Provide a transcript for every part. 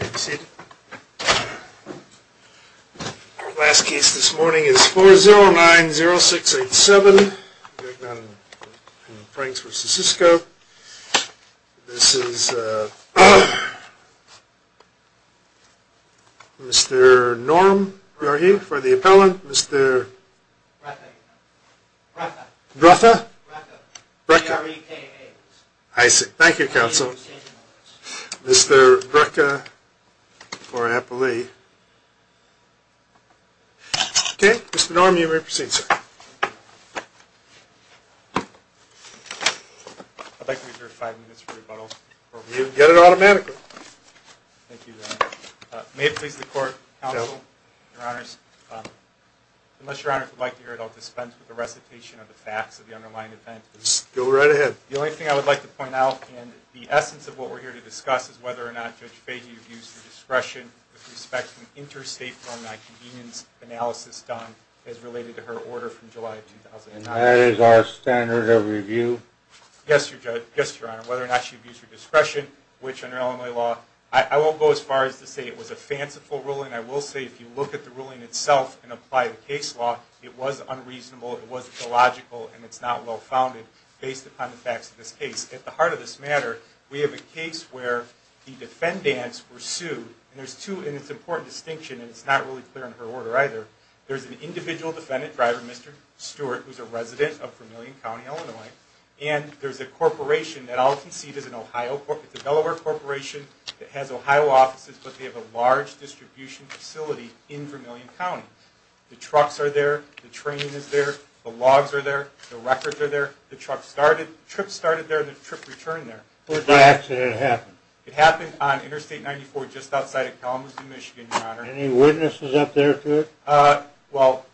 Our last case this morning is 4090687, Gagnon and Franks v. Sysco. This is Mr. Norm, who are you for the appellant? Mr. Brecha. I see. Thank you, Counsel. Mr. Brecha for appellee. Okay, Mr. Norm, you may proceed, sir. I'd like to reserve five minutes for rebuttal. You can get it automatically. Thank you, Your Honor. May it please the Court, Counsel, Your Honors, unless, Your Honor, if you'd like to hear it, I'll dispense with the recitation of the facts of the underlying event. Go right ahead. The only thing I would like to point out, and the essence of what we're here to discuss, is whether or not Judge Fahy abused her discretion with respect to interstate loan non-convenience analysis done as related to her order from July of 2009. And that is our standard of review? Yes, Your Honor. Whether or not she abused her discretion, which under Illinois law, I won't go as far as to say it was a fanciful ruling. I will say, if you look at the ruling itself and apply the case law, it was unreasonable, it was illogical, and it's not well-founded based upon the facts of this case. At the heart of this matter, we have a case where the defendants were sued. And there's two, and it's an important distinction, and it's not really clear in her order either. There's an individual defendant, Dr. Mr. Stewart, who's a resident of Vermillion County, Illinois. And there's a corporation that I'll concede is an Ohio, it's a Delaware corporation that has Ohio offices, but they have a large distribution facility in Vermillion County. The trucks are there, the training is there, the logs are there, the records are there, the trip started there and the trip returned there. When did the accident happen? It happened on Interstate 94 just outside of Kalamazoo, Michigan, Your Honor. Any witnesses up there to it? Well,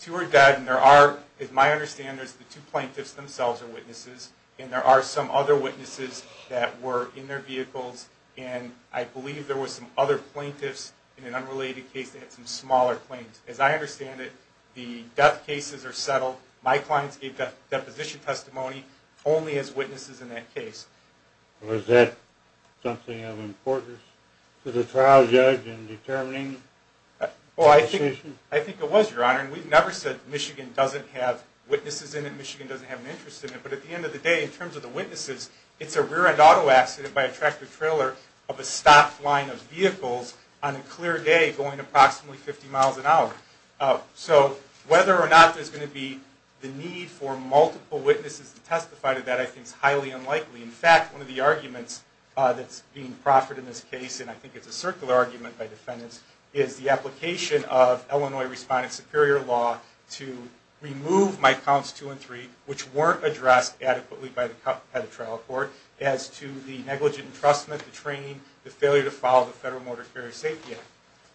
two are dead, and there are, as my understanding is, the two plaintiffs themselves are witnesses, and there are some other witnesses that were in their vehicles, and I believe there were some other plaintiffs in an unrelated case that had some smaller claims. As I understand it, the death cases are settled. My clients gave deposition testimony only as witnesses in that case. Was that something of importance to the trial judge in determining the decision? Well, I think it was, Your Honor, and we've never said Michigan doesn't have witnesses in it, Michigan doesn't have an interest in it. But at the end of the day, in terms of the witnesses, it's a rear-end auto accident by a tractor-trailer of a stopped line of vehicles on a clear day going approximately 50 miles an hour. So whether or not there's going to be the need for multiple witnesses to testify to that I think is highly unlikely. In fact, one of the arguments that's being proffered in this case, and I think it's a circular argument by defendants, is the application of Illinois Respondent Superior Law to remove my counts 2 and 3, which weren't addressed adequately by the trial court, as to the negligent entrustment, the training, the failure to follow the Federal Motor Carrier Safety Act.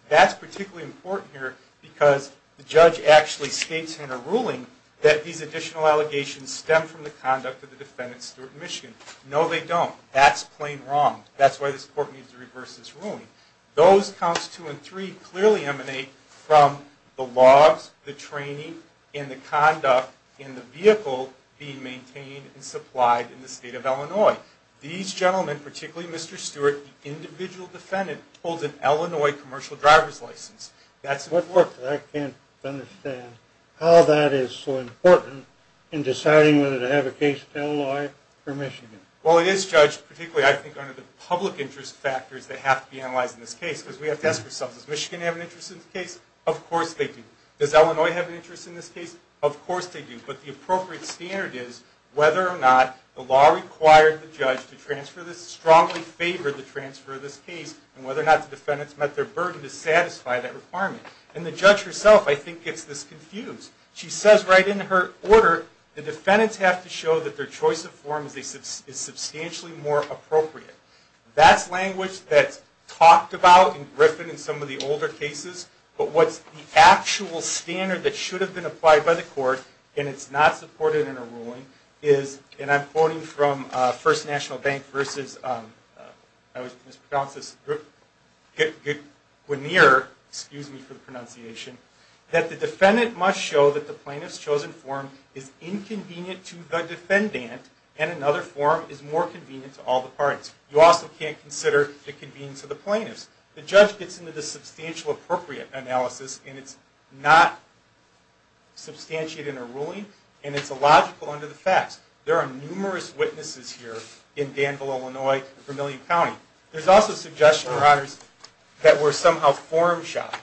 That's particularly important here because the judge actually states in a ruling that these additional allegations stem from the conduct of the defendants in Michigan. No, they don't. That's plain wrong. That's why this court needs to reverse this ruling. Those counts 2 and 3 clearly emanate from the laws, the training, and the conduct in the vehicle being maintained and supplied in the state of Illinois. These gentlemen, particularly Mr. Stewart, the individual defendant, holds an Illinois commercial driver's license. I can't understand how that is so important in deciding whether to have a case in Illinois or Michigan. Well, it is judged particularly, I think, under the public interest factors that have to be analyzed in this case because we have to ask ourselves, does Michigan have an interest in this case? Of course they do. Does Illinois have an interest in this case? Of course they do. But the appropriate standard is whether or not the law required the judge to transfer this, strongly favored the transfer of this case, and whether or not the defendants met their burden to satisfy that requirement. And the judge herself, I think, gets this confused. She says right in her order, the defendants have to show that their choice of form is substantially more appropriate. That's language that's talked about in Griffin in some of the older cases, but what's the actual standard that should have been applied by the court, and it's not supported in a ruling, is, and I'm quoting from First National Bank versus, I always mispronounce this, Guineer, excuse me for the pronunciation, that the defendant must show that the plaintiff's chosen form is inconvenient to the defendant and another form is more convenient to all the parties. You also can't consider the convenience of the plaintiffs. The judge gets into the substantial appropriate analysis, and it's not substantiated in a ruling, and it's illogical under the facts. There are numerous witnesses here in Danville, Illinois, Vermillion County. There's also suggestion, Your Honors, that we're somehow form shopping.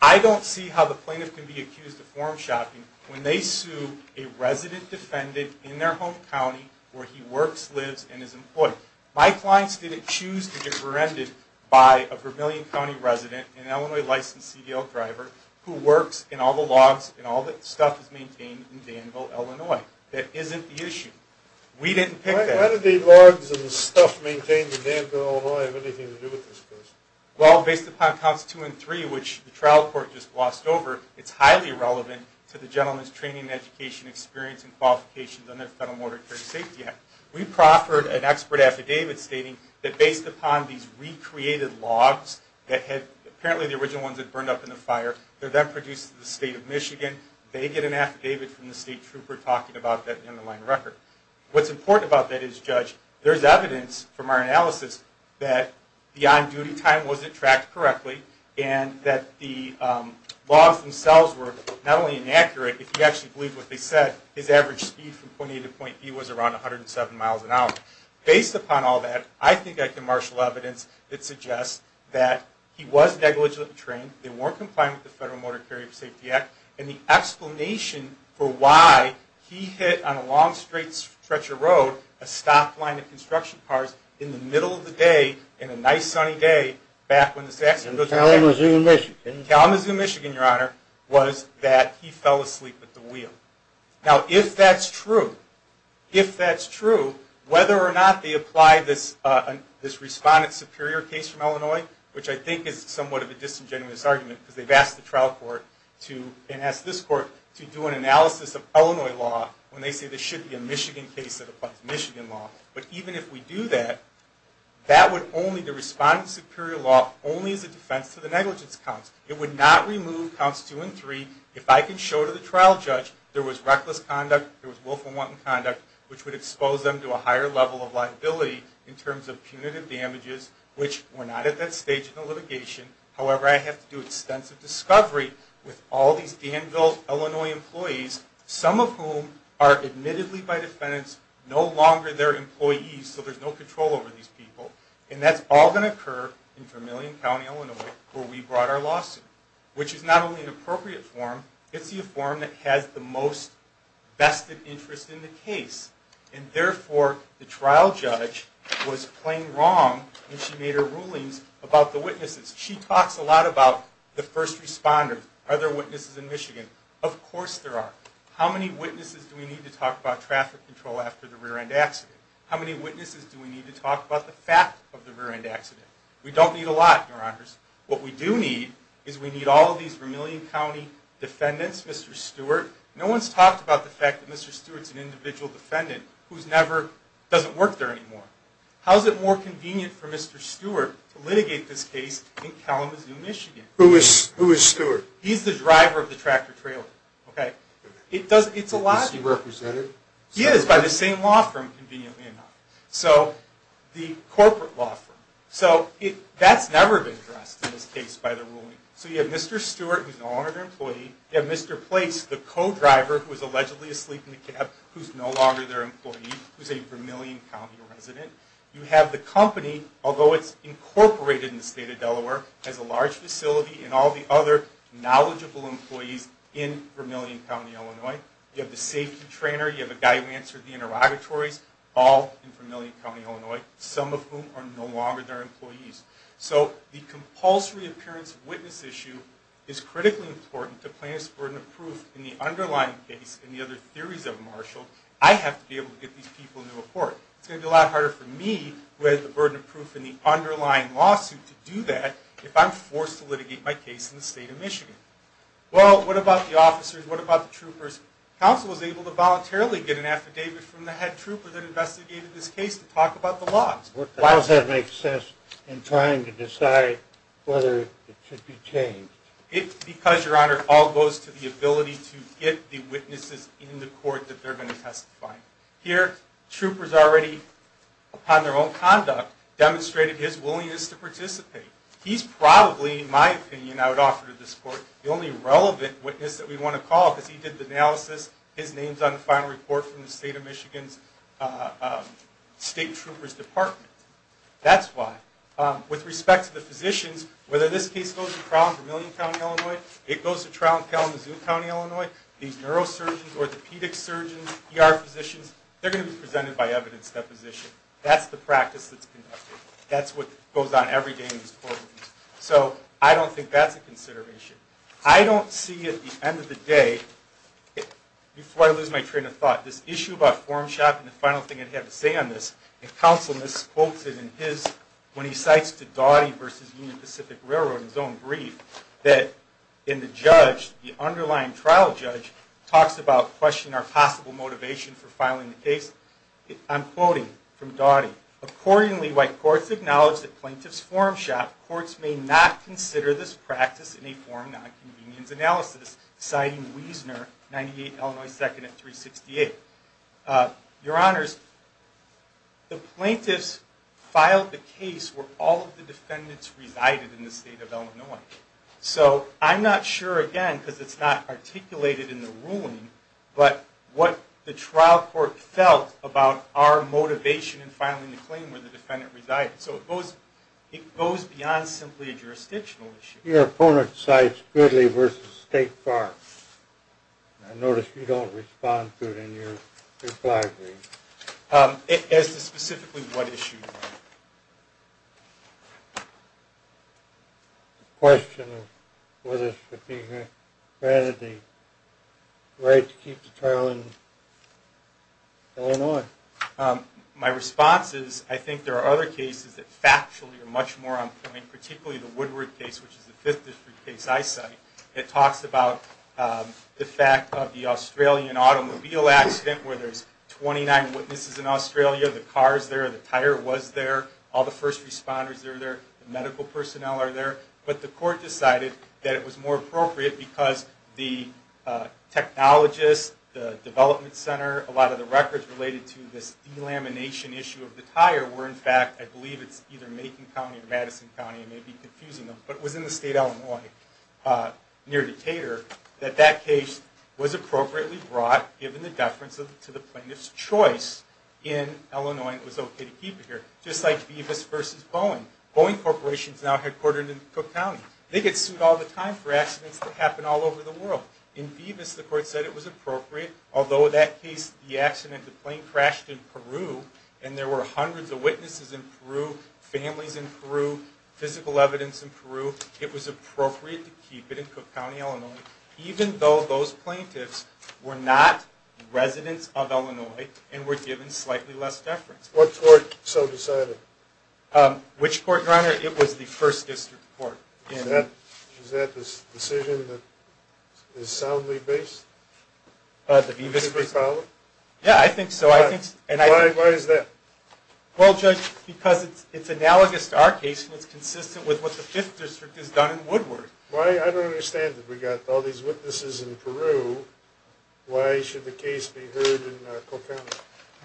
I don't see how the plaintiff can be accused of form shopping when they sue a resident defendant in their home county where he works, lives, and is employed. My clients didn't choose to get branded by a Vermillion County resident, an Illinois licensed CDL driver, who works in all the logs and all the stuff that's maintained in Danville, Illinois. That isn't the issue. We didn't pick that. How do the logs and the stuff maintained in Danville, Illinois, have anything to do with this case? Well, based upon counts two and three, which the trial court just glossed over, it's highly relevant to the gentleman's training and education experience and qualifications under the Federal Mortar and Carrier Safety Act. We proffered an expert affidavit stating that based upon these recreated logs that had apparently the original ones had burned up in the fire, they're then produced in the state of Michigan. They get an affidavit from the state trooper talking about that underlying record. that the on-duty time wasn't tracked correctly, and that the logs themselves were not only inaccurate, if you actually believe what they said, his average speed from point A to point B was around 107 miles an hour. Based upon all that, I think I can marshal evidence that suggests that he was negligently trained, they weren't compliant with the Federal Mortar and Carrier Safety Act, and the explanation for why he hit on a long straight stretch of road, a stopped line of construction cars, in the middle of the day, on a nice sunny day, back when the... In Kalamazoo, Michigan. In Kalamazoo, Michigan, Your Honor, was that he fell asleep at the wheel. Now, if that's true, if that's true, whether or not they apply this respondent superior case from Illinois, which I think is somewhat of a disingenuous argument, because they've asked the trial court to, and asked this court, to do an analysis of Illinois law when they say there should be a Michigan case that applies Michigan law. But even if we do that, that would only... The respondent superior law only is a defense to the negligence counts. It would not remove counts two and three. If I can show to the trial judge there was reckless conduct, there was willful and wanton conduct, which would expose them to a higher level of liability in terms of punitive damages, which were not at that stage in the litigation. However, I have to do extensive discovery with all these Danville, Illinois employees, some of whom are admittedly by defense no longer their employees, so there's no control over these people. And that's all going to occur in Vermillion County, Illinois, where we brought our lawsuit, which is not only an appropriate form, it's the form that has the most vested interest in the case. And therefore, the trial judge was plain wrong when she made her rulings about the witnesses. She talks a lot about the first responders. Are there witnesses in Michigan? Of course there are. How many witnesses do we need to talk about traffic control after the rear-end accident? How many witnesses do we need to talk about the fact of the rear-end accident? We don't need a lot, Your Honors. What we do need is we need all of these Vermillion County defendants, Mr. Stewart. No one's talked about the fact that Mr. Stewart's an individual defendant who doesn't work there anymore. How is it more convenient for Mr. Stewart to litigate this case in Kalamazoo, Michigan? Who is Stewart? He's the driver of the tractor-trailer. Is he represented? He is, by the same law firm, conveniently enough. The corporate law firm. That's never been addressed in this case by the ruling. So you have Mr. Stewart, who's no longer an employee. You have Mr. Place, the co-driver who was allegedly asleep in the cab, who's no longer their employee, who's a Vermillion County resident. You have the company, although it's incorporated in the state of Delaware, has a large facility and all the other knowledgeable employees in Vermillion County, Illinois. You have the safety trainer. You have a guy who answered the interrogatories, all in Vermillion County, Illinois, some of whom are no longer their employees. So the compulsory appearance of witness issue is critically important to plaintiff's burden of proof in the underlying case and the other theories of Marshall. I have to be able to get these people into a court. It's going to be a lot harder for me, who has the burden of proof in the underlying lawsuit, to do that if I'm forced to litigate my case in the state of Michigan. Well, what about the officers? What about the troopers? Counsel was able to voluntarily get an affidavit from the head trooper that investigated this case to talk about the laws. Why does that make sense in trying to decide whether it should be changed? It's because, Your Honor, it all goes to the ability to get the witnesses in the court that they're going to testify. Here, troopers already, upon their own conduct, demonstrated his willingness to participate. He's probably, in my opinion, I would offer to this court, the only relevant witness that we want to call because he did the analysis, his name's on the final report from the state troopers' department. That's why. With respect to the physicians, whether this case goes to trial in Vermillion County, Illinois, it goes to trial in Kalamazoo County, Illinois, these neurosurgeons, orthopedic surgeons, ER physicians, they're going to be presented by evidence deposition. That's the practice that's conducted. That's what goes on every day in these courtrooms. So I don't think that's a consideration. I don't see at the end of the day, before I lose my train of thought, this issue about form shopping, the final thing I'd have to say on this, and counsel quotes it in his, when he cites the Daughty v. Union Pacific Railroad, in his own brief, that in the judge, the underlying trial judge, talks about questioning our possible motivation for filing the case. I'm quoting from Doughty. Accordingly, while courts acknowledge that plaintiffs form shop, courts may not consider this practice in a form of nonconvenience analysis, citing Wiesner, 98 Illinois 2nd at 368. Your Honors, the plaintiffs filed the case where all of the defendants resided in the state of Illinois. So I'm not sure, again, because it's not articulated in the ruling, but what the trial court felt about our motivation in filing the claim where the defendant resided. So it goes beyond simply a jurisdictional issue. Your opponent cites Goodley v. State Park. I notice you don't respond to it in your reply brief. As to specifically what issue? The question of whether it should be granted the right to keep the trial in Illinois. My response is I think there are other cases that factually are much more on point, particularly the Woodward case, which is the 5th District case I cite. It talks about the fact of the Australian automobile accident where there's 29 witnesses in Australia. The car is there, the tire was there, all the first responders are there, the medical personnel are there. But the court decided that it was more appropriate because the technologist, the development center, a lot of the records related to this delamination issue of the tire were, in fact, I believe it's either Macon County or Madison County, I may be confusing them, but it was in the state of Illinois near Decatur, that that case was appropriately brought, given the deference to the plaintiff's choice, in Illinois and it was okay to keep it here. Just like Beavis v. Boeing. Boeing Corporation is now headquartered in Cook County. They get sued all the time for accidents that happen all over the world. In Beavis, the court said it was appropriate, although that case, the accident, the plane crashed in Peru and there were hundreds of witnesses in Peru, families in Peru, physical evidence in Peru. It was appropriate to keep it in Cook County, Illinois, even though those plaintiffs were not residents of Illinois and were given slightly less deference. What court so decided? Which court, Your Honor? It was the First District Court. Is that the decision that is soundly based? The Beavis v. Boeing? Yeah, I think so. Why is that? Well, Judge, because it's analogous to our case and it's consistent with what the Fifth District has done in Woodward. I don't understand it. We've got all these witnesses in Peru. Why should the case be heard in Cook County?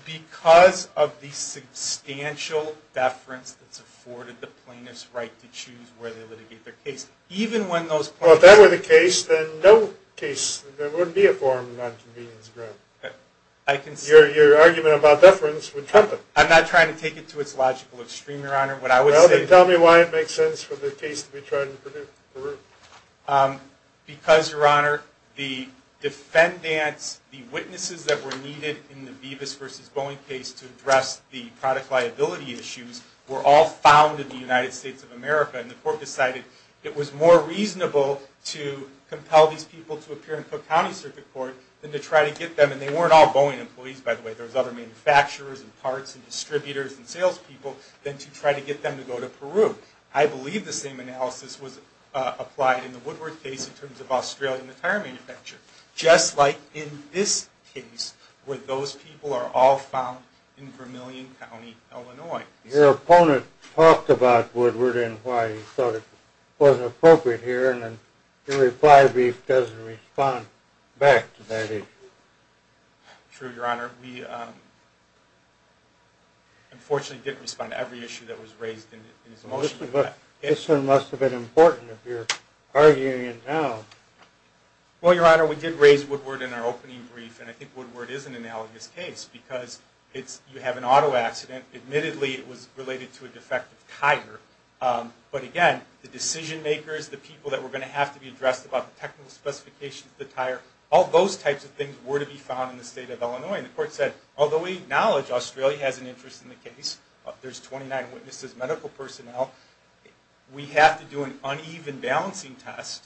Because of the substantial deference that's afforded the plaintiff's right to choose where they litigate their case, even when those plaintiffs… Well, if that were the case, then no case, there wouldn't be a form of nonconvenience granted. Your argument about deference would trump it. I'm not trying to take it to its logical extreme, Your Honor. Tell me why it makes sense for the case to be tried in Peru. Because, Your Honor, the defendants, the witnesses that were needed in the Beavis v. Boeing case to address the product liability issues were all found in the United States of America, and the court decided it was more reasonable to compel these people to appear in Cook County Circuit Court than to try to get them, and they weren't all Boeing employees, by the way. There were other manufacturers and parts and distributors and salespeople, than to try to get them to go to Peru. I believe the same analysis was applied in the Woodward case in terms of Australian tire manufacturers, just like in this case, where those people are all found in Vermillion County, Illinois. Your opponent talked about Woodward and why he thought it wasn't appropriate here, and then he replied that he doesn't respond back to that issue. True, Your Honor. We unfortunately didn't respond to every issue that was raised in his motion. This one must have been important if you're arguing it now. Well, Your Honor, we did raise Woodward in our opening brief, and I think Woodward is an analogous case, because you have an auto accident. Admittedly, it was related to a defective tire, but again, the decision makers, all those types of things were to be found in the state of Illinois, and the court said, although we acknowledge Australia has an interest in the case, there's 29 witnesses, medical personnel, we have to do an uneven balancing test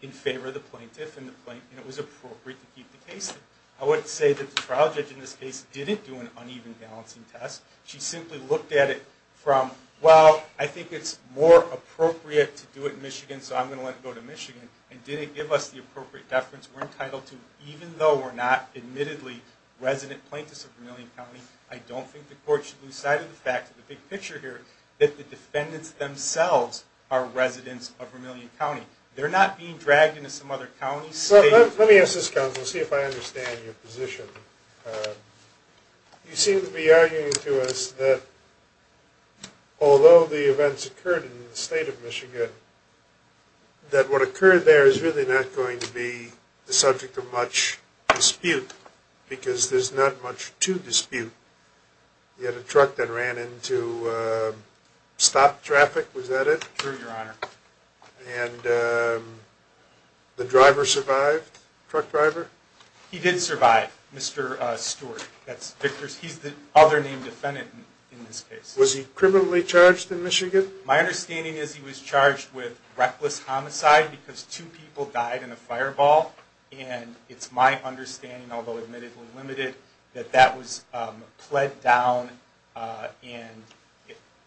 in favor of the plaintiff and the plaintiff, and it was appropriate to keep the case there. I would say that the trial judge in this case didn't do an uneven balancing test. She simply looked at it from, well, I think it's more appropriate to do it in Michigan, so I'm going to let it go to Michigan, and didn't give us the appropriate deference. We're entitled to, even though we're not, admittedly, resident plaintiffs of Vermillion County, I don't think the court should lose sight of the fact, the big picture here, that the defendants themselves are residents of Vermillion County. They're not being dragged into some other county, state. Let me ask this, counsel, to see if I understand your position. You seem to be arguing to us that, although the events occurred in the state of Michigan, that what occurred there is really not going to be the subject of much dispute, because there's not much to dispute. You had a truck that ran into stop traffic, was that it? True, Your Honor. And the driver survived, truck driver? He did survive, Mr. Stewart. He's the other named defendant in this case. Was he criminally charged in Michigan? My understanding is he was charged with reckless homicide, because two people died in a fireball, and it's my understanding, although admittedly limited, that that was pled down, and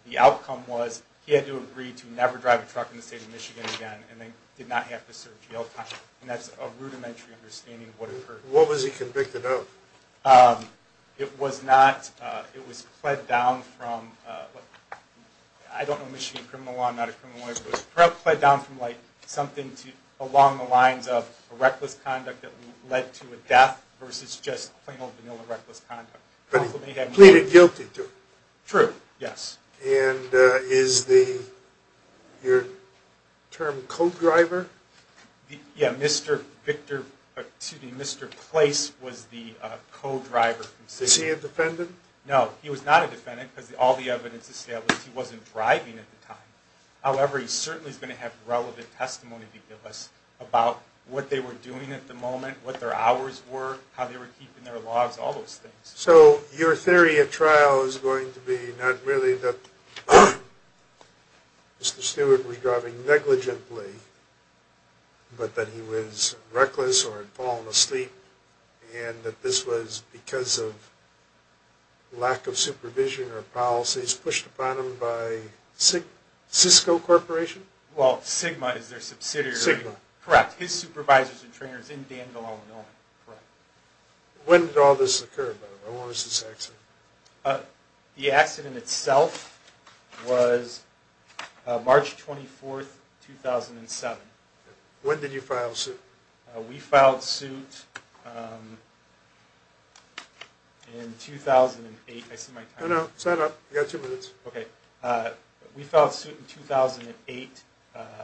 the outcome was he had to agree to never drive a truck in the state of Michigan again, and they did not have to serve jail time. And that's a rudimentary understanding of what occurred. What was he convicted of? It was not, it was pled down from, I don't know Michigan criminal law, I'm not a criminal lawyer, but it was pled down from something along the lines of reckless conduct that led to a death versus just plain old vanilla reckless conduct. But he pleaded guilty to it. True, yes. And is the, your term, co-driver? Yeah, Mr. Victor, excuse me, Mr. Place was the co-driver. Is he a defendant? No, he was not a defendant, because all the evidence established he wasn't driving at the time. However, he certainly is going to have relevant testimony to give us about what they were doing at the moment, what their hours were, how they were keeping their logs, all those things. So your theory at trial is going to be not really that Mr. Stewart was driving negligently, but that he was reckless or had fallen asleep, and that this was because of lack of supervision or policies pushed upon him by Cisco Corporation? Well, Sigma is their subsidiary. Sigma. Correct, his supervisors and trainers in Danville, Illinois. Correct. When did all this occur, by the way? When was this accident? The accident itself was March 24, 2007. When did you file suit? We filed suit in 2008. I see my time. No, no, sign up. You've got two minutes. Okay. We filed suit in 2008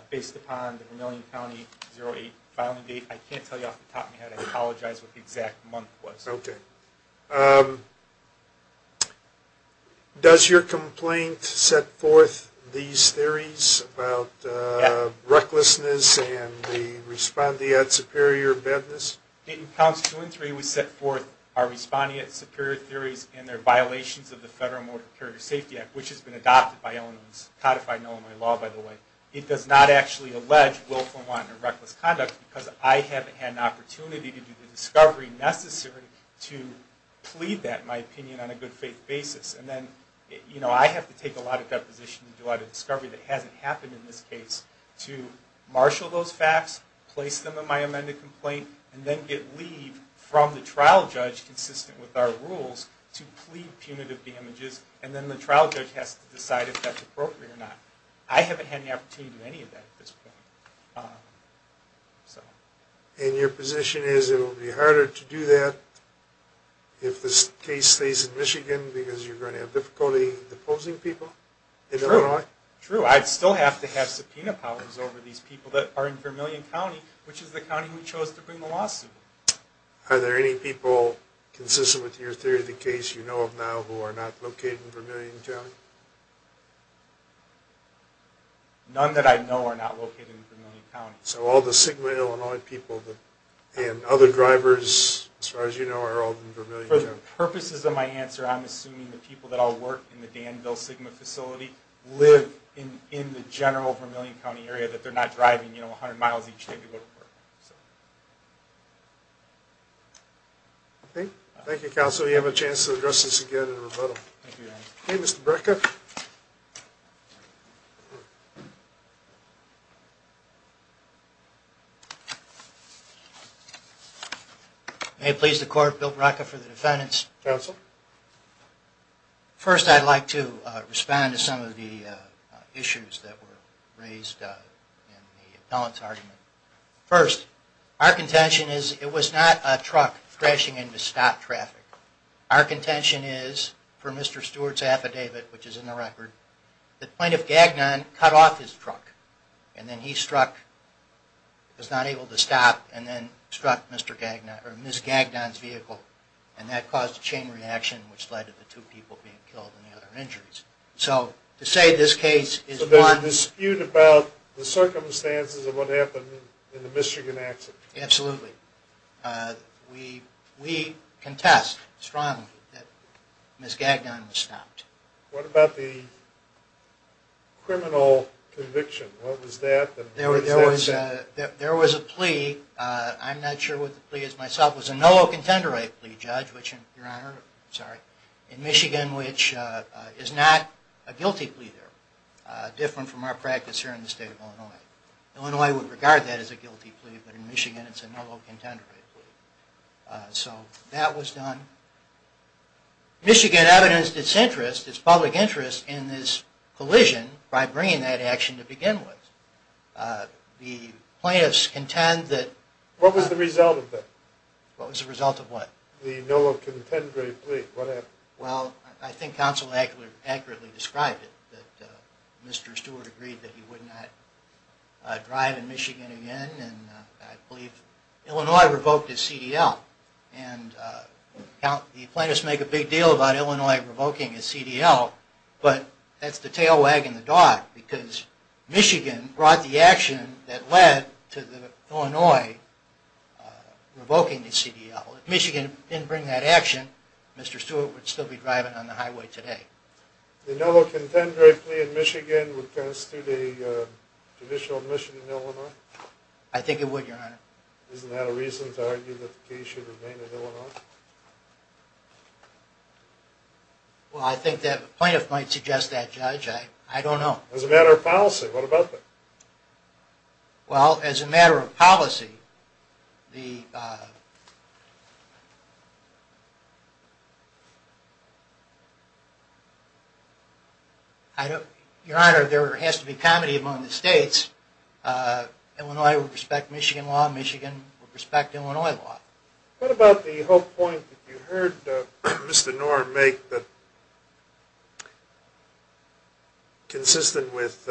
based upon the Vermillion County 08 filing date. I can't tell you off the top of my head. I apologize what the exact month was. Okay. Does your complaint set forth these theories about recklessness and the respondeat superior badness? In counts two and three, we set forth our respondeat superior theories and their violations of the Federal Motor Carrier Safety Act, which has been adopted by Illinois, codified in Illinois law, by the way. It does not actually allege willful and wanton or reckless conduct because I haven't had an opportunity to do the discovery necessary to plead that, in my opinion, on a good faith basis. And then, you know, I have to take a lot of deposition to do a lot of discovery that hasn't happened in this case to marshal those facts, place them in my amended complaint, and then get leave from the trial judge, consistent with our rules, to plead punitive damages. And then the trial judge has to decide if that's appropriate or not. I haven't had an opportunity to do any of that at this point. And your position is it will be harder to do that if this case stays in Michigan because you're going to have difficulty deposing people in Illinois? True. True. I'd still have to have subpoena powers over these people that are in Vermillion County, which is the county we chose to bring the lawsuit. Are there any people consistent with your theory of the case you know of now who are not located in Vermillion County? None that I know are not located in Vermillion County. So all the Sigma Illinois people and other drivers, as far as you know, are all in Vermillion County? For the purposes of my answer, I'm assuming the people that all work in the Danville Sigma facility live in the general Vermillion County area, that they're not driving 100 miles each day to go to work. Thank you, counsel. You have a chance to address this again in a rebuttal. Thank you, Your Honor. Okay, Mr. Bracca. May it please the Court, Bill Bracca for the defendants. Counsel. First, I'd like to respond to some of the issues that were raised in the appellant's argument. First, our contention is it was not a truck crashing into stop traffic. Our contention is, from Mr. Stewart's affidavit, which is in the record, the plaintiff, Gagnon, cut off his truck, and then he struck, was not able to stop, and then struck Ms. Gagnon's vehicle, and that caused a chain reaction, which led to the two people being killed and the other injured. So, to say this case is one... But there's a dispute about the circumstances of what happened in the Michigan accident. Absolutely. We contest strongly that Ms. Gagnon was stopped. What about the criminal conviction? What was that? There was a plea. I'm not sure what the plea is myself. It was a no-contender right plea, Judge, which, Your Honor... Sorry. In Michigan, which is not a guilty plea there. Different from our practice here in the state of Illinois. Illinois would regard that as a guilty plea, but in Michigan it's a no-contender right plea. So, that was done. Michigan evidenced its interest, its public interest, in this collision by bringing that action to begin with. The plaintiffs contend that... What was the result of that? What was the result of what? The no-contender plea. What happened? Well, I think counsel accurately described it, that Mr. Stewart agreed that he would not drive in Michigan again, and I believe Illinois revoked his CDL. And the plaintiffs make a big deal about Illinois revoking his CDL, but that's the tail wagging the dog, because Michigan brought the action that led to Illinois revoking the CDL. If Michigan didn't bring that action, Mr. Stewart would still be driving on the highway today. The no-contender plea in Michigan would constitute a judicial admission in Illinois? I think it would, Your Honor. Isn't that a reason to argue that the case should remain in Illinois? Well, I think that the plaintiff might suggest that, Judge. I don't know. As a matter of policy, what about that? Well, as a matter of policy, the... Your Honor, there has to be comedy among the states. Illinois would respect Michigan law, Michigan would respect Illinois law. What about the whole point that you heard Mr. Norm make, that consistent with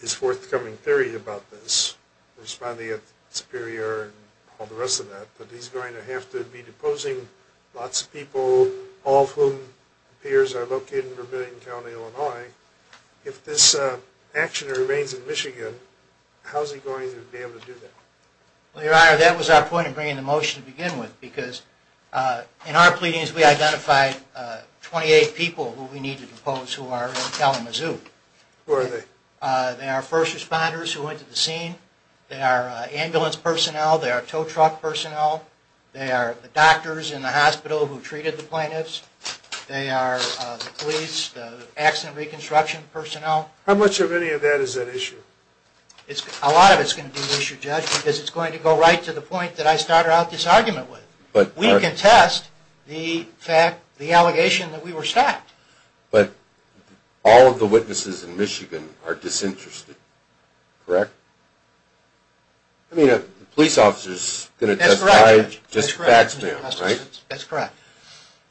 his forthcoming theory about this, responding at Superior and all the rest of that, that he's going to have to be deposing lots of people, all of whom appears are located in Vermillion County, Illinois. If this action remains in Michigan, how's he going to be able to do that? Well, Your Honor, that was our point in bringing the motion to begin with, because in our pleadings we identified 28 people who we need to depose who are in Kalamazoo. Who are they? They are first responders who went to the scene, they are ambulance personnel, they are tow truck personnel, they are the doctors in the hospital who treated the plaintiffs, they are the police, the accident reconstruction personnel. How much of any of that is at issue? A lot of it is going to be at issue, Judge, because it's going to go right to the point that I started out this argument with. We contest the fact, the allegation that we were stopped. But all of the witnesses in Michigan are disinterested, correct? I mean, a police officer is going to testify just facts now, right? That's correct.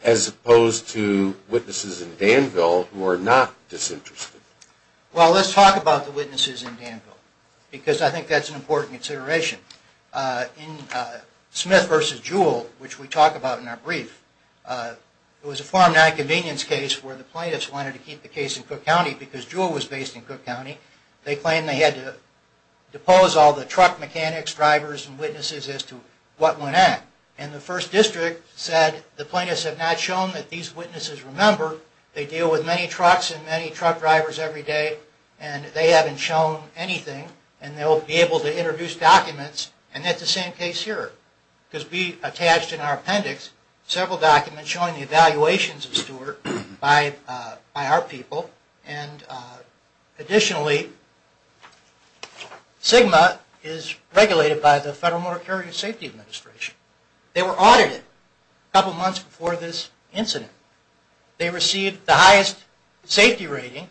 As opposed to witnesses in Danville who are not disinterested. Well, let's talk about the witnesses in Danville, because I think that's an important consideration. In Smith v. Jewell, which we talk about in our brief, it was a form of non-convenience case where the plaintiffs wanted to keep the case in Cook County because Jewell was based in Cook County. They claimed they had to depose all the truck mechanics, drivers, and witnesses as to what went at. And the First District said the plaintiffs have not shown that these witnesses remember they deal with many trucks and many truck drivers every day, and they haven't shown anything, and they'll be able to introduce documents. And that's the same case here, because we attached in our appendix several documents showing the evaluations of Stewart by our people. And additionally, SGMA is regulated by the Federal Motor Carrier Safety Administration. They were audited a couple months before this incident. They received the highest safety rating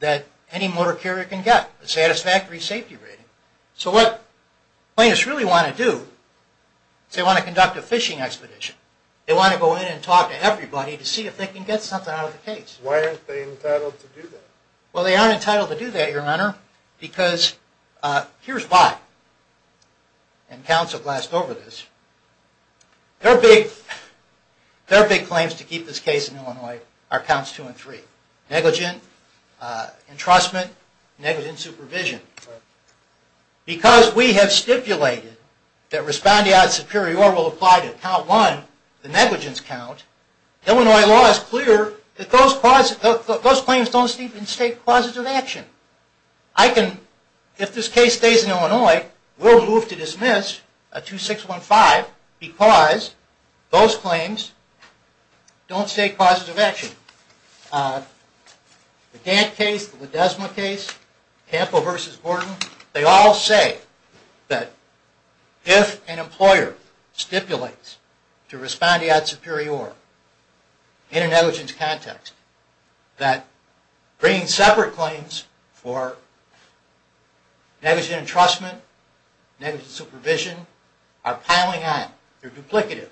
that any motor carrier can get, a satisfactory safety rating. So what the plaintiffs really want to do is they want to conduct a fishing expedition. They want to go in and talk to everybody to see if they can get something out of the case. Why aren't they entitled to do that? Well, they aren't entitled to do that, Your Honor, because here's why. And counsel glassed over this. Their big claims to keep this case in Illinois are counts two and three, negligent, entrustment, negligent supervision. Because we have stipulated that respondeat superior will apply to count one, the negligence count, Illinois law is clear that those claims don't state clauses of action. If this case stays in Illinois, we'll move to dismiss at 2615 because those claims don't state clauses of action. The Gantt case, the Ledesma case, Campo v. Gordon, they all say that if an employer stipulates to respondeat superior in a negligence context, that bringing separate claims for negligent entrustment, negligent supervision, are piling on, they're duplicative,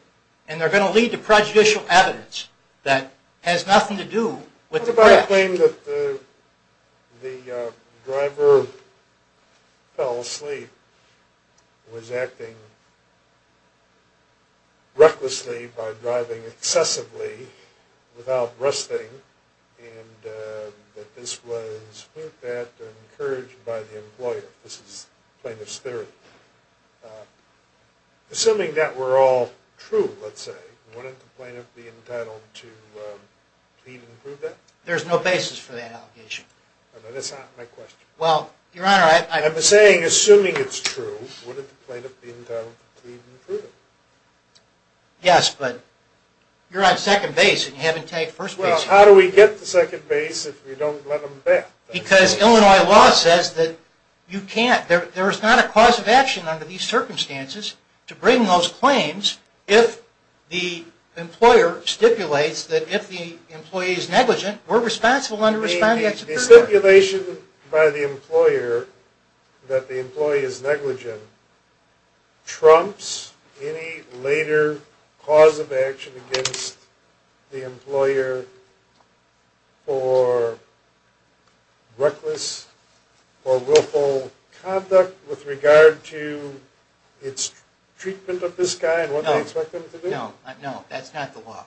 and they're going to lead to prejudicial evidence that has nothing to do with the crash. What about a claim that the driver fell asleep, was acting recklessly by driving excessively without resting, and that this was, look at that, encouraged by the employer? This is plaintiff's theory. Assuming that were all true, let's say, wouldn't the plaintiff be entitled to plead and prove that? There's no basis for that allegation. That's not my question. I'm saying, assuming it's true, wouldn't the plaintiff be entitled to plead and prove it? Yes, but you're on second base, and you haven't taken first base. Well, how do we get to second base if we don't let them bet? Because Illinois law says that you can't. There is not a clause of action under these circumstances to bring those claims if the employer stipulates that if the employee is negligent, we're responsible under respondeat superior. The stipulation by the employer that the employee is negligent trumps any later clause of action against the employer for reckless or willful conduct with regard to its treatment of this guy and what they expect him to do? No, that's not the law.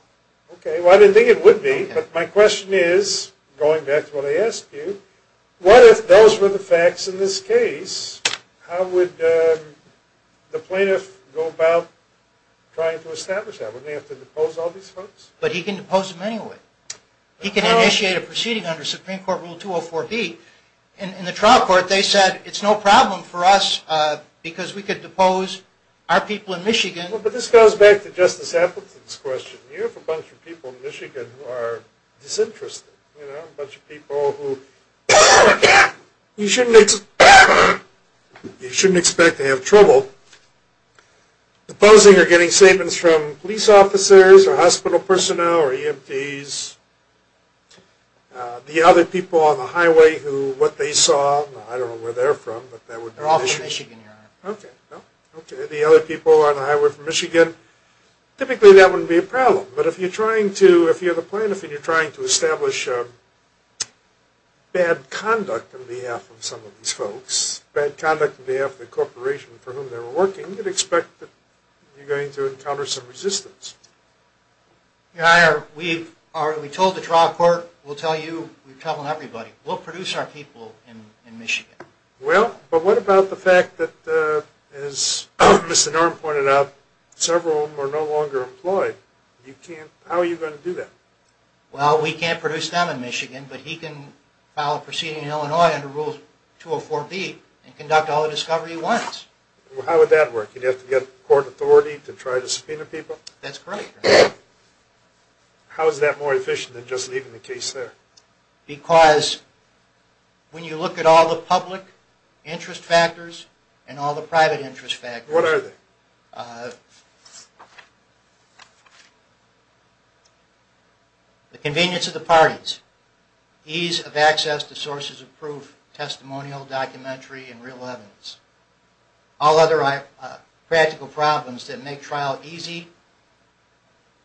Okay, well, I didn't think it would be, but my question is, going back to what I asked you, what if those were the facts in this case? How would the plaintiff go about trying to establish that? Wouldn't they have to depose all these folks? But he can depose them anyway. He can initiate a proceeding under Supreme Court Rule 204B. In the trial court, they said it's no problem for us because we could depose our people in Michigan. But this goes back to Justice Appleton's question. You have a bunch of people in Michigan who are disinterested, a bunch of people who you shouldn't expect to have trouble. Deposing or getting statements from police officers or hospital personnel or EMTs. The other people on the highway who what they saw, I don't know where they're from, but that would be Michigan. The other people on the highway from Michigan, typically that wouldn't be a problem. But if you're the plaintiff and you're trying to establish bad conduct on behalf of some of these folks, bad conduct on behalf of the corporation for whom they're working, you'd expect that you're going to encounter some resistance. We told the trial court, we'll tell you, we've told everybody, we'll produce our people in Michigan. Well, but what about the fact that, as Mr. Norum pointed out, several of them are no longer employed? How are you going to do that? Well, we can't produce them in Michigan, but he can file a proceeding in Illinois under Rule 204B and conduct all the discovery he wants. How would that work? You'd have to get court authority to try to subpoena people? That's correct. How is that more efficient than just leaving the case there? Because when you look at all the public interest factors and all the private interest factors. What are they? The convenience of the parties. Ease of access to sources of proof, testimonial, documentary, and real evidence. All other practical problems that make trial easy,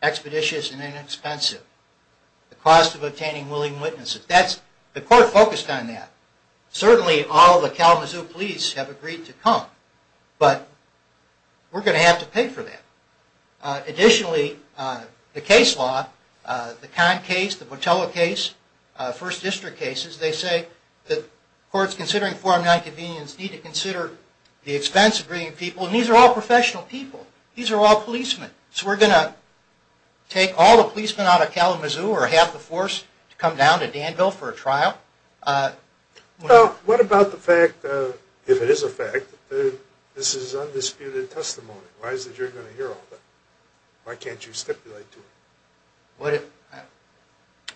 expeditious, and inexpensive. The cost of obtaining willing witnesses. The court focused on that. Certainly all the Kalamazoo police have agreed to come, but we're going to have to pay for that. Additionally, the case law, the Conn case, the Botella case, first district cases, they say that courts considering 4M9 convenience need to consider the expense of bringing people. And these are all professional people. These are all policemen. So we're going to take all the policemen out of Kalamazoo or have the force come down to Danville for a trial. What about the fact, if it is a fact, that this is undisputed testimony? Why is it you're going to hear all that? Why can't you stipulate to it?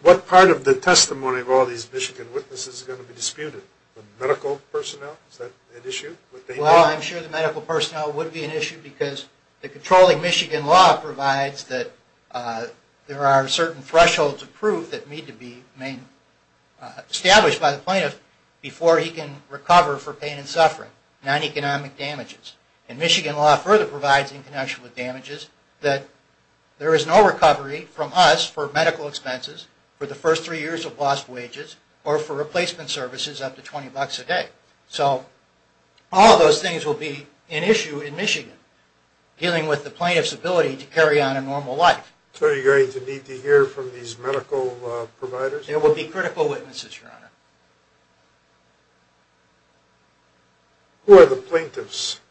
What part of the testimony of all these Michigan witnesses is going to be disputed? The medical personnel? Is that an issue? Well, I'm sure the medical personnel would be an issue because the controlling Michigan law provides that there are certain thresholds of proof that need to be established by the plaintiff before he can recover for pain and suffering, non-economic damages. And Michigan law further provides in connection with damages that there is no recovery from us for medical expenses, for the first three years of lost wages, or for replacement services up to $20 a day. So all of those things will be an issue in Michigan, dealing with the plaintiff's ability to carry on a normal life. So are you going to need to hear from these medical providers? They will be critical witnesses, Your Honor. Who are the plaintiffs,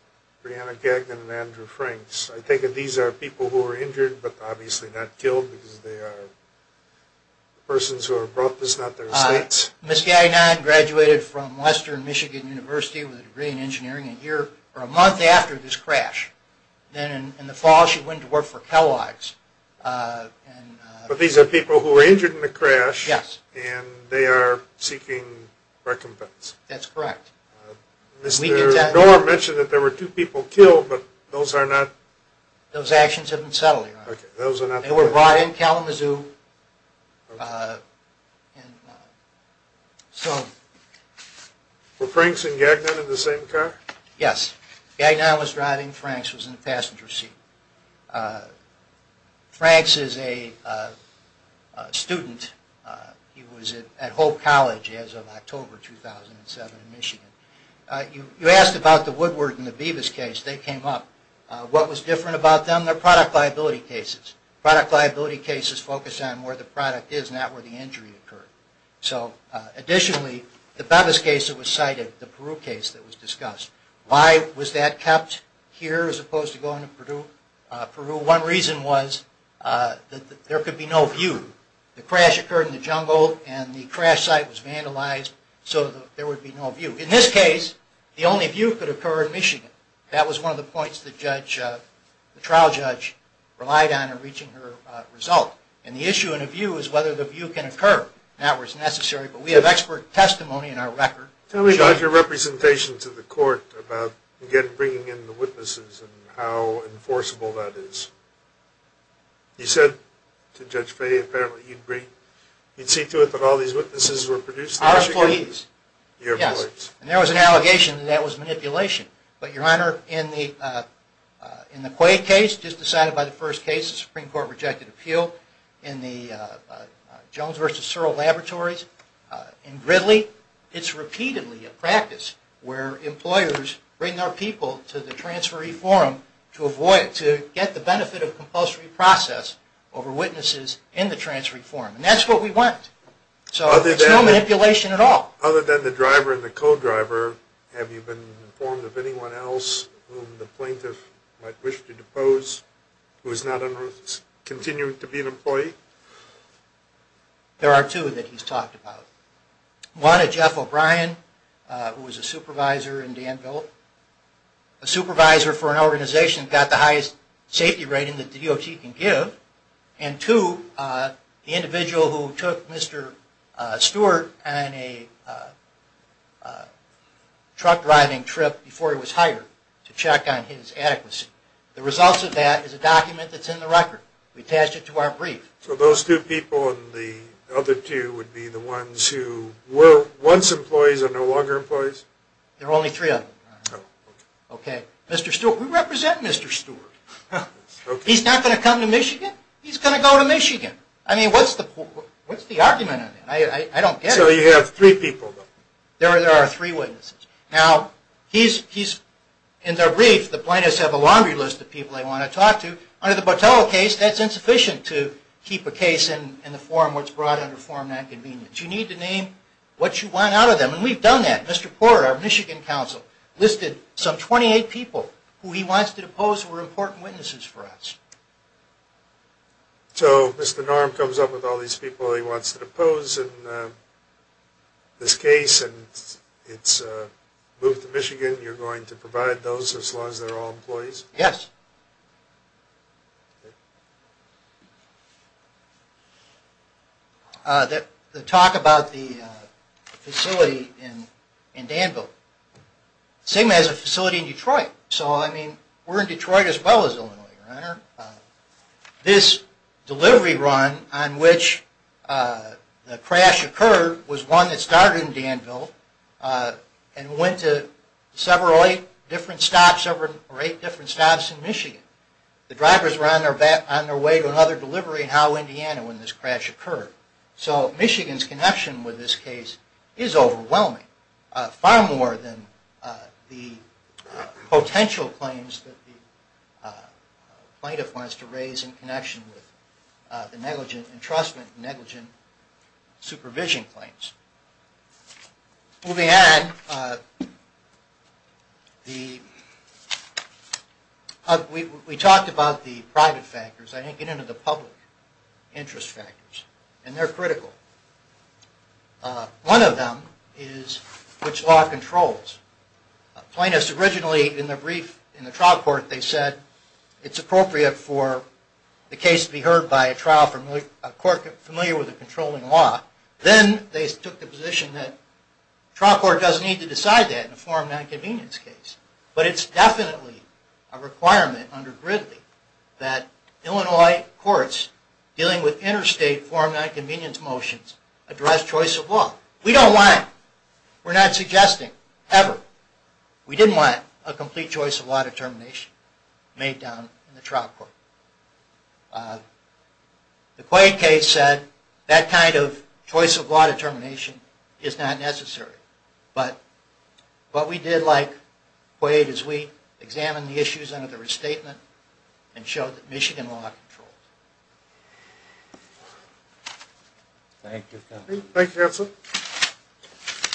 Brianna Gagnon and Andrew Franks? I take it these are people who were injured, but obviously not killed because they are persons who are brought this, not their states. Ms. Gagnon graduated from Western Michigan University with a degree in engineering a month after this crash. Then in the fall she went to work for Kellogg's. But these are people who were injured in the crash, and they are seeking recompense. That's correct. Mr. Norr mentioned that there were two people killed, but those are not... Those actions have been settled, Your Honor. They were brought in Kalamazoo. Were Franks and Gagnon in the same car? Yes. Gagnon was driving. Franks was in the passenger seat. Franks is a student. He was at Hope College as of October 2007 in Michigan. You asked about the Woodward and the Bevis case. They came up. What was different about them? They're product liability cases. Product liability cases focus on where the product is, not where the injury occurred. So additionally, the Bevis case that was cited, the Peru case that was discussed, why was that kept here as opposed to going to Peru? One reason was that there could be no view. The crash occurred in the jungle, and the crash site was vandalized, so there would be no view. In this case, the only view could occur in Michigan. That was one of the points the trial judge relied on in reaching her result. The issue in a view is whether the view can occur. That was necessary, but we have expert testimony in our record. Tell me about your representation to the court about, again, bringing in the witnesses and how enforceable that is. You said to Judge Fay, apparently you'd see to it that all these witnesses were produced in Michigan? Our employees. Your employees. Yes, and there was an allegation that that was manipulation. But, Your Honor, in the Quade case, just decided by the first case, the Supreme Court rejected appeal, in the Jones v. Searle laboratories, in Gridley. It's repeatedly a practice where employers bring their people to the transferee forum to avoid, to get the benefit of compulsory process over witnesses in the transferee forum. And that's what we want. So it's no manipulation at all. Other than the driver and the co-driver, have you been informed of anyone else whom the plaintiff might wish to depose who is not continuing to be an employee? There are two that he's talked about. One, a Jeff O'Brien, who was a supervisor in Danville. A supervisor for an organization that got the highest safety rating that the DOT can give. And two, the individual who took Mr. Stewart on a truck driving trip before he was hired to check on his adequacy. The results of that is a document that's in the record. We attached it to our brief. So those two people and the other two would be the ones who were once employees and are no longer employees? There are only three of them. Okay. Mr. Stewart. We represent Mr. Stewart. He's not going to come to Michigan. He's going to go to Michigan. I mean, what's the argument on that? I don't get it. So you have three people. There are three witnesses. Now, he's, in their brief, the plaintiffs have a laundry list of people they want to talk to. Under the Botella case, that's insufficient to keep a case in the forum what's brought under forum nonconvenience. You need to name what you want out of them. And we've done that. Mr. Porter, our Michigan counsel, listed some 28 people who he wants to depose who were important witnesses for us. So Mr. Norm comes up with all these people he wants to depose in this case and it's moved to Michigan. You're going to provide those as long as they're all employees? Yes. The talk about the facility in Danville. The same as a facility in Detroit. So, I mean, we're in Detroit as well as Illinois, Your Honor. This delivery run on which the crash occurred was one that started in Danville and went to several, eight different stops in Michigan. The drivers were on their way to another delivery in Howe, Indiana when this crash occurred. So Michigan's connection with this case is overwhelming, far more than the potential claims that the plaintiff wants to raise in connection with the negligent entrustment and negligent supervision claims. Moving ahead, we talked about the private factors. I didn't get into the public interest factors. And they're critical. One of them is which law controls. Plaintiffs originally, in the brief in the trial court, they said, it's appropriate for the case to be heard by a court familiar with the controlling law. Then they took the position that trial court doesn't need to decide that in a form of nonconvenience case. But it's definitely a requirement under Gridley that Illinois courts dealing with interstate form of nonconvenience motions address choice of law. We're not suggesting, ever. We didn't want a complete choice of law determination made down in the trial court. The Quade case said that kind of choice of law determination is not necessary. But what we did like Quade is we examined the issues under the restatement and showed that Michigan law controls. Thank you, counsel.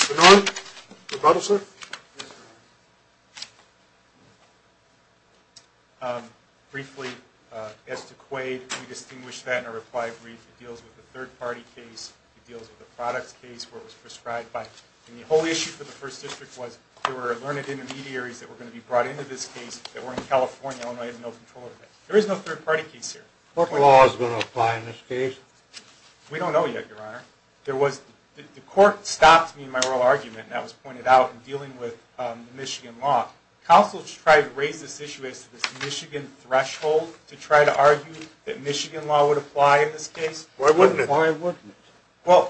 Good morning. Your brother, sir. Briefly, as to Quade, we distinguished that in our reply brief. It deals with a third-party case. It deals with a product case where it was prescribed by. And the whole issue for the First District was there were learned intermediaries that were going to be brought into this case that were in California. Illinois had no control of that. There is no third-party case here. What law is going to apply in this case? We don't know yet, Your Honor. The court stopped me in my oral argument, and that was pointed out, in dealing with the Michigan law. Counsel tried to raise this issue as to this Michigan threshold to try to argue that Michigan law would apply in this case. Why wouldn't it? Why wouldn't it?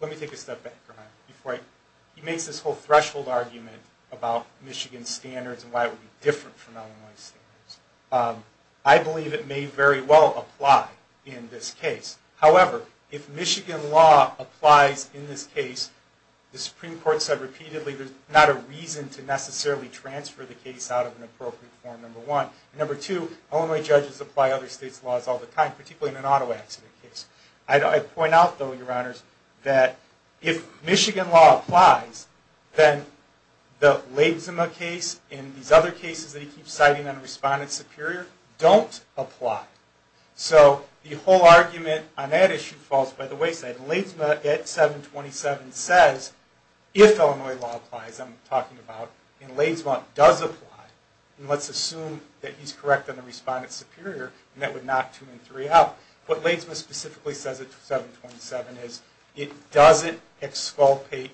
Let me take a step back, Your Honor. He makes this whole threshold argument about Michigan standards and why it would be different from Illinois standards. I believe it may very well apply in this case. However, if Michigan law applies in this case, the Supreme Court said repeatedly there's not a reason to necessarily transfer the case out of an appropriate form, number one. Number two, Illinois judges apply other states' laws all the time, particularly in an auto accident case. I point out, though, Your Honors, that if Michigan law applies, then the Ladesma case and these other cases that he keeps citing on Respondent Superior don't apply. So the whole argument on that issue falls by the wayside. Ladesma at 727 says, if Illinois law applies, I'm talking about, and Ladesma does apply, and let's assume that he's correct on the Respondent Superior, and that would knock two and three out. What Ladesma specifically says at 727 is it doesn't exculpate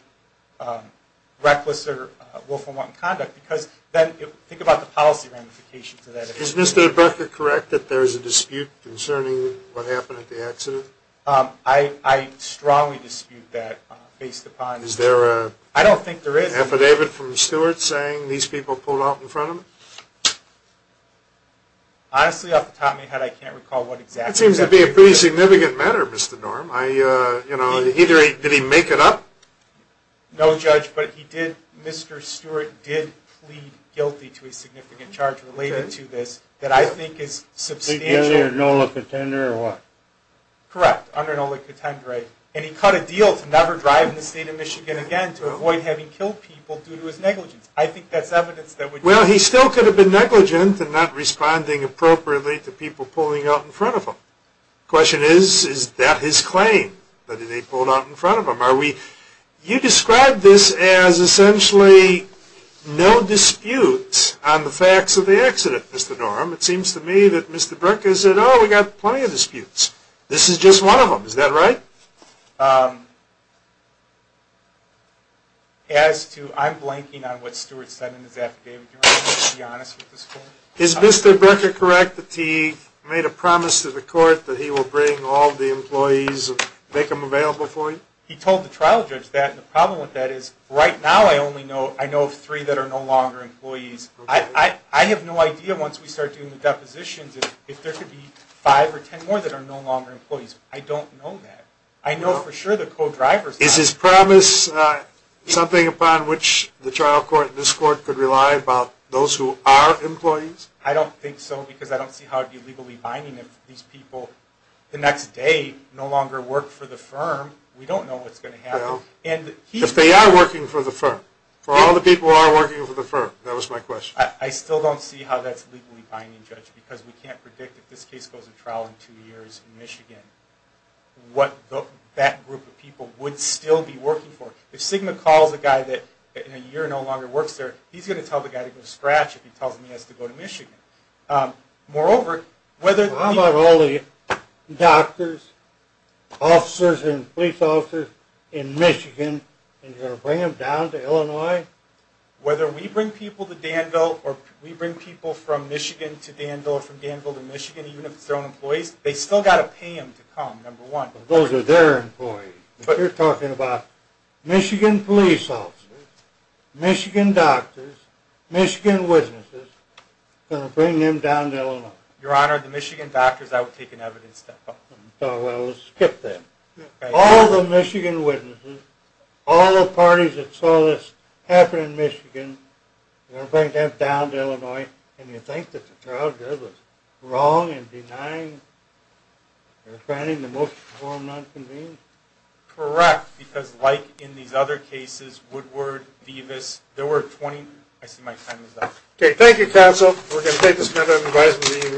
reckless or willful wrong conduct, because then think about the policy ramifications of that. Is Mr. DeBecca correct that there is a dispute concerning what happened at the accident? I strongly dispute that based upon... Is there a... I don't think there is. ...an affidavit from Stewart saying these people pulled out in front of him? Honestly, off the top of my head, I can't recall what exactly... That seems to be a pretty significant matter, Mr. Norm. Did he make it up? No, Judge, but he did. Mr. Stewart did plead guilty to a significant charge related to this that I think is substantial. Plead guilty under NOLA contender or what? Correct, under NOLA contender. And he cut a deal to never drive in the state of Michigan again to avoid having killed people due to his negligence. I think that's evidence that would... Well, he still could have been negligent in not responding appropriately to people pulling out in front of him. The question is, is that his claim that they pulled out in front of him? Are we... You described this as essentially no dispute on the facts of the accident, Mr. Norm. It seems to me that Mr. Burka said, oh, we've got plenty of disputes. This is just one of them. Is that right? As to... I'm blanking on what Stewart said in his affidavit. Do you want me to be honest with this court? Is Mr. Burka correct that he made a promise to the court that he will bring all the employees and make them available for you? He told the trial judge that. The problem with that is right now I only know of three that are no longer employees. I have no idea once we start doing the depositions if there could be five or ten more that are no longer employees. I don't know that. I know for sure the co-drivers... Is his promise something upon which the trial court and this court could rely upon those who are employees? I don't think so because I don't see how it would be legally binding if these people the next day no longer work for the firm. We don't know what's going to happen. If they are working for the firm, for all the people who are working for the firm, that was my question. I still don't see how that's legally binding, Judge, because we can't predict if this case goes to trial in two years in Michigan what that group of people would still be working for. If Sigma calls a guy that in a year no longer works there, he's going to tell the guy to go to scratch if he tells him he has to go to Michigan. Moreover, whether... How about all the doctors, officers, and police officers in Michigan, and you're going to bring them down to Illinois? Whether we bring people to Danville or we bring people from Michigan to Danville or from Danville to Michigan, even if it's their own employees, they still got to pay them to come, number one. Those are their employees. You're talking about Michigan police officers, Michigan doctors, Michigan witnesses, going to bring them down to Illinois. Your Honor, the Michigan doctors, I would take an evidence step. Well, let's skip them. All the Michigan witnesses, all the parties that saw this happen in Michigan, you're going to bring them down to Illinois, and you think that the trial judge was wrong in denying or granting the motion for him not to convene? Correct, because like in these other cases, Woodward, Vivas, there were 20. I see my time is up. Okay. Thank you, counsel. We're going to take this matter and advise it will be in recess until tomorrow.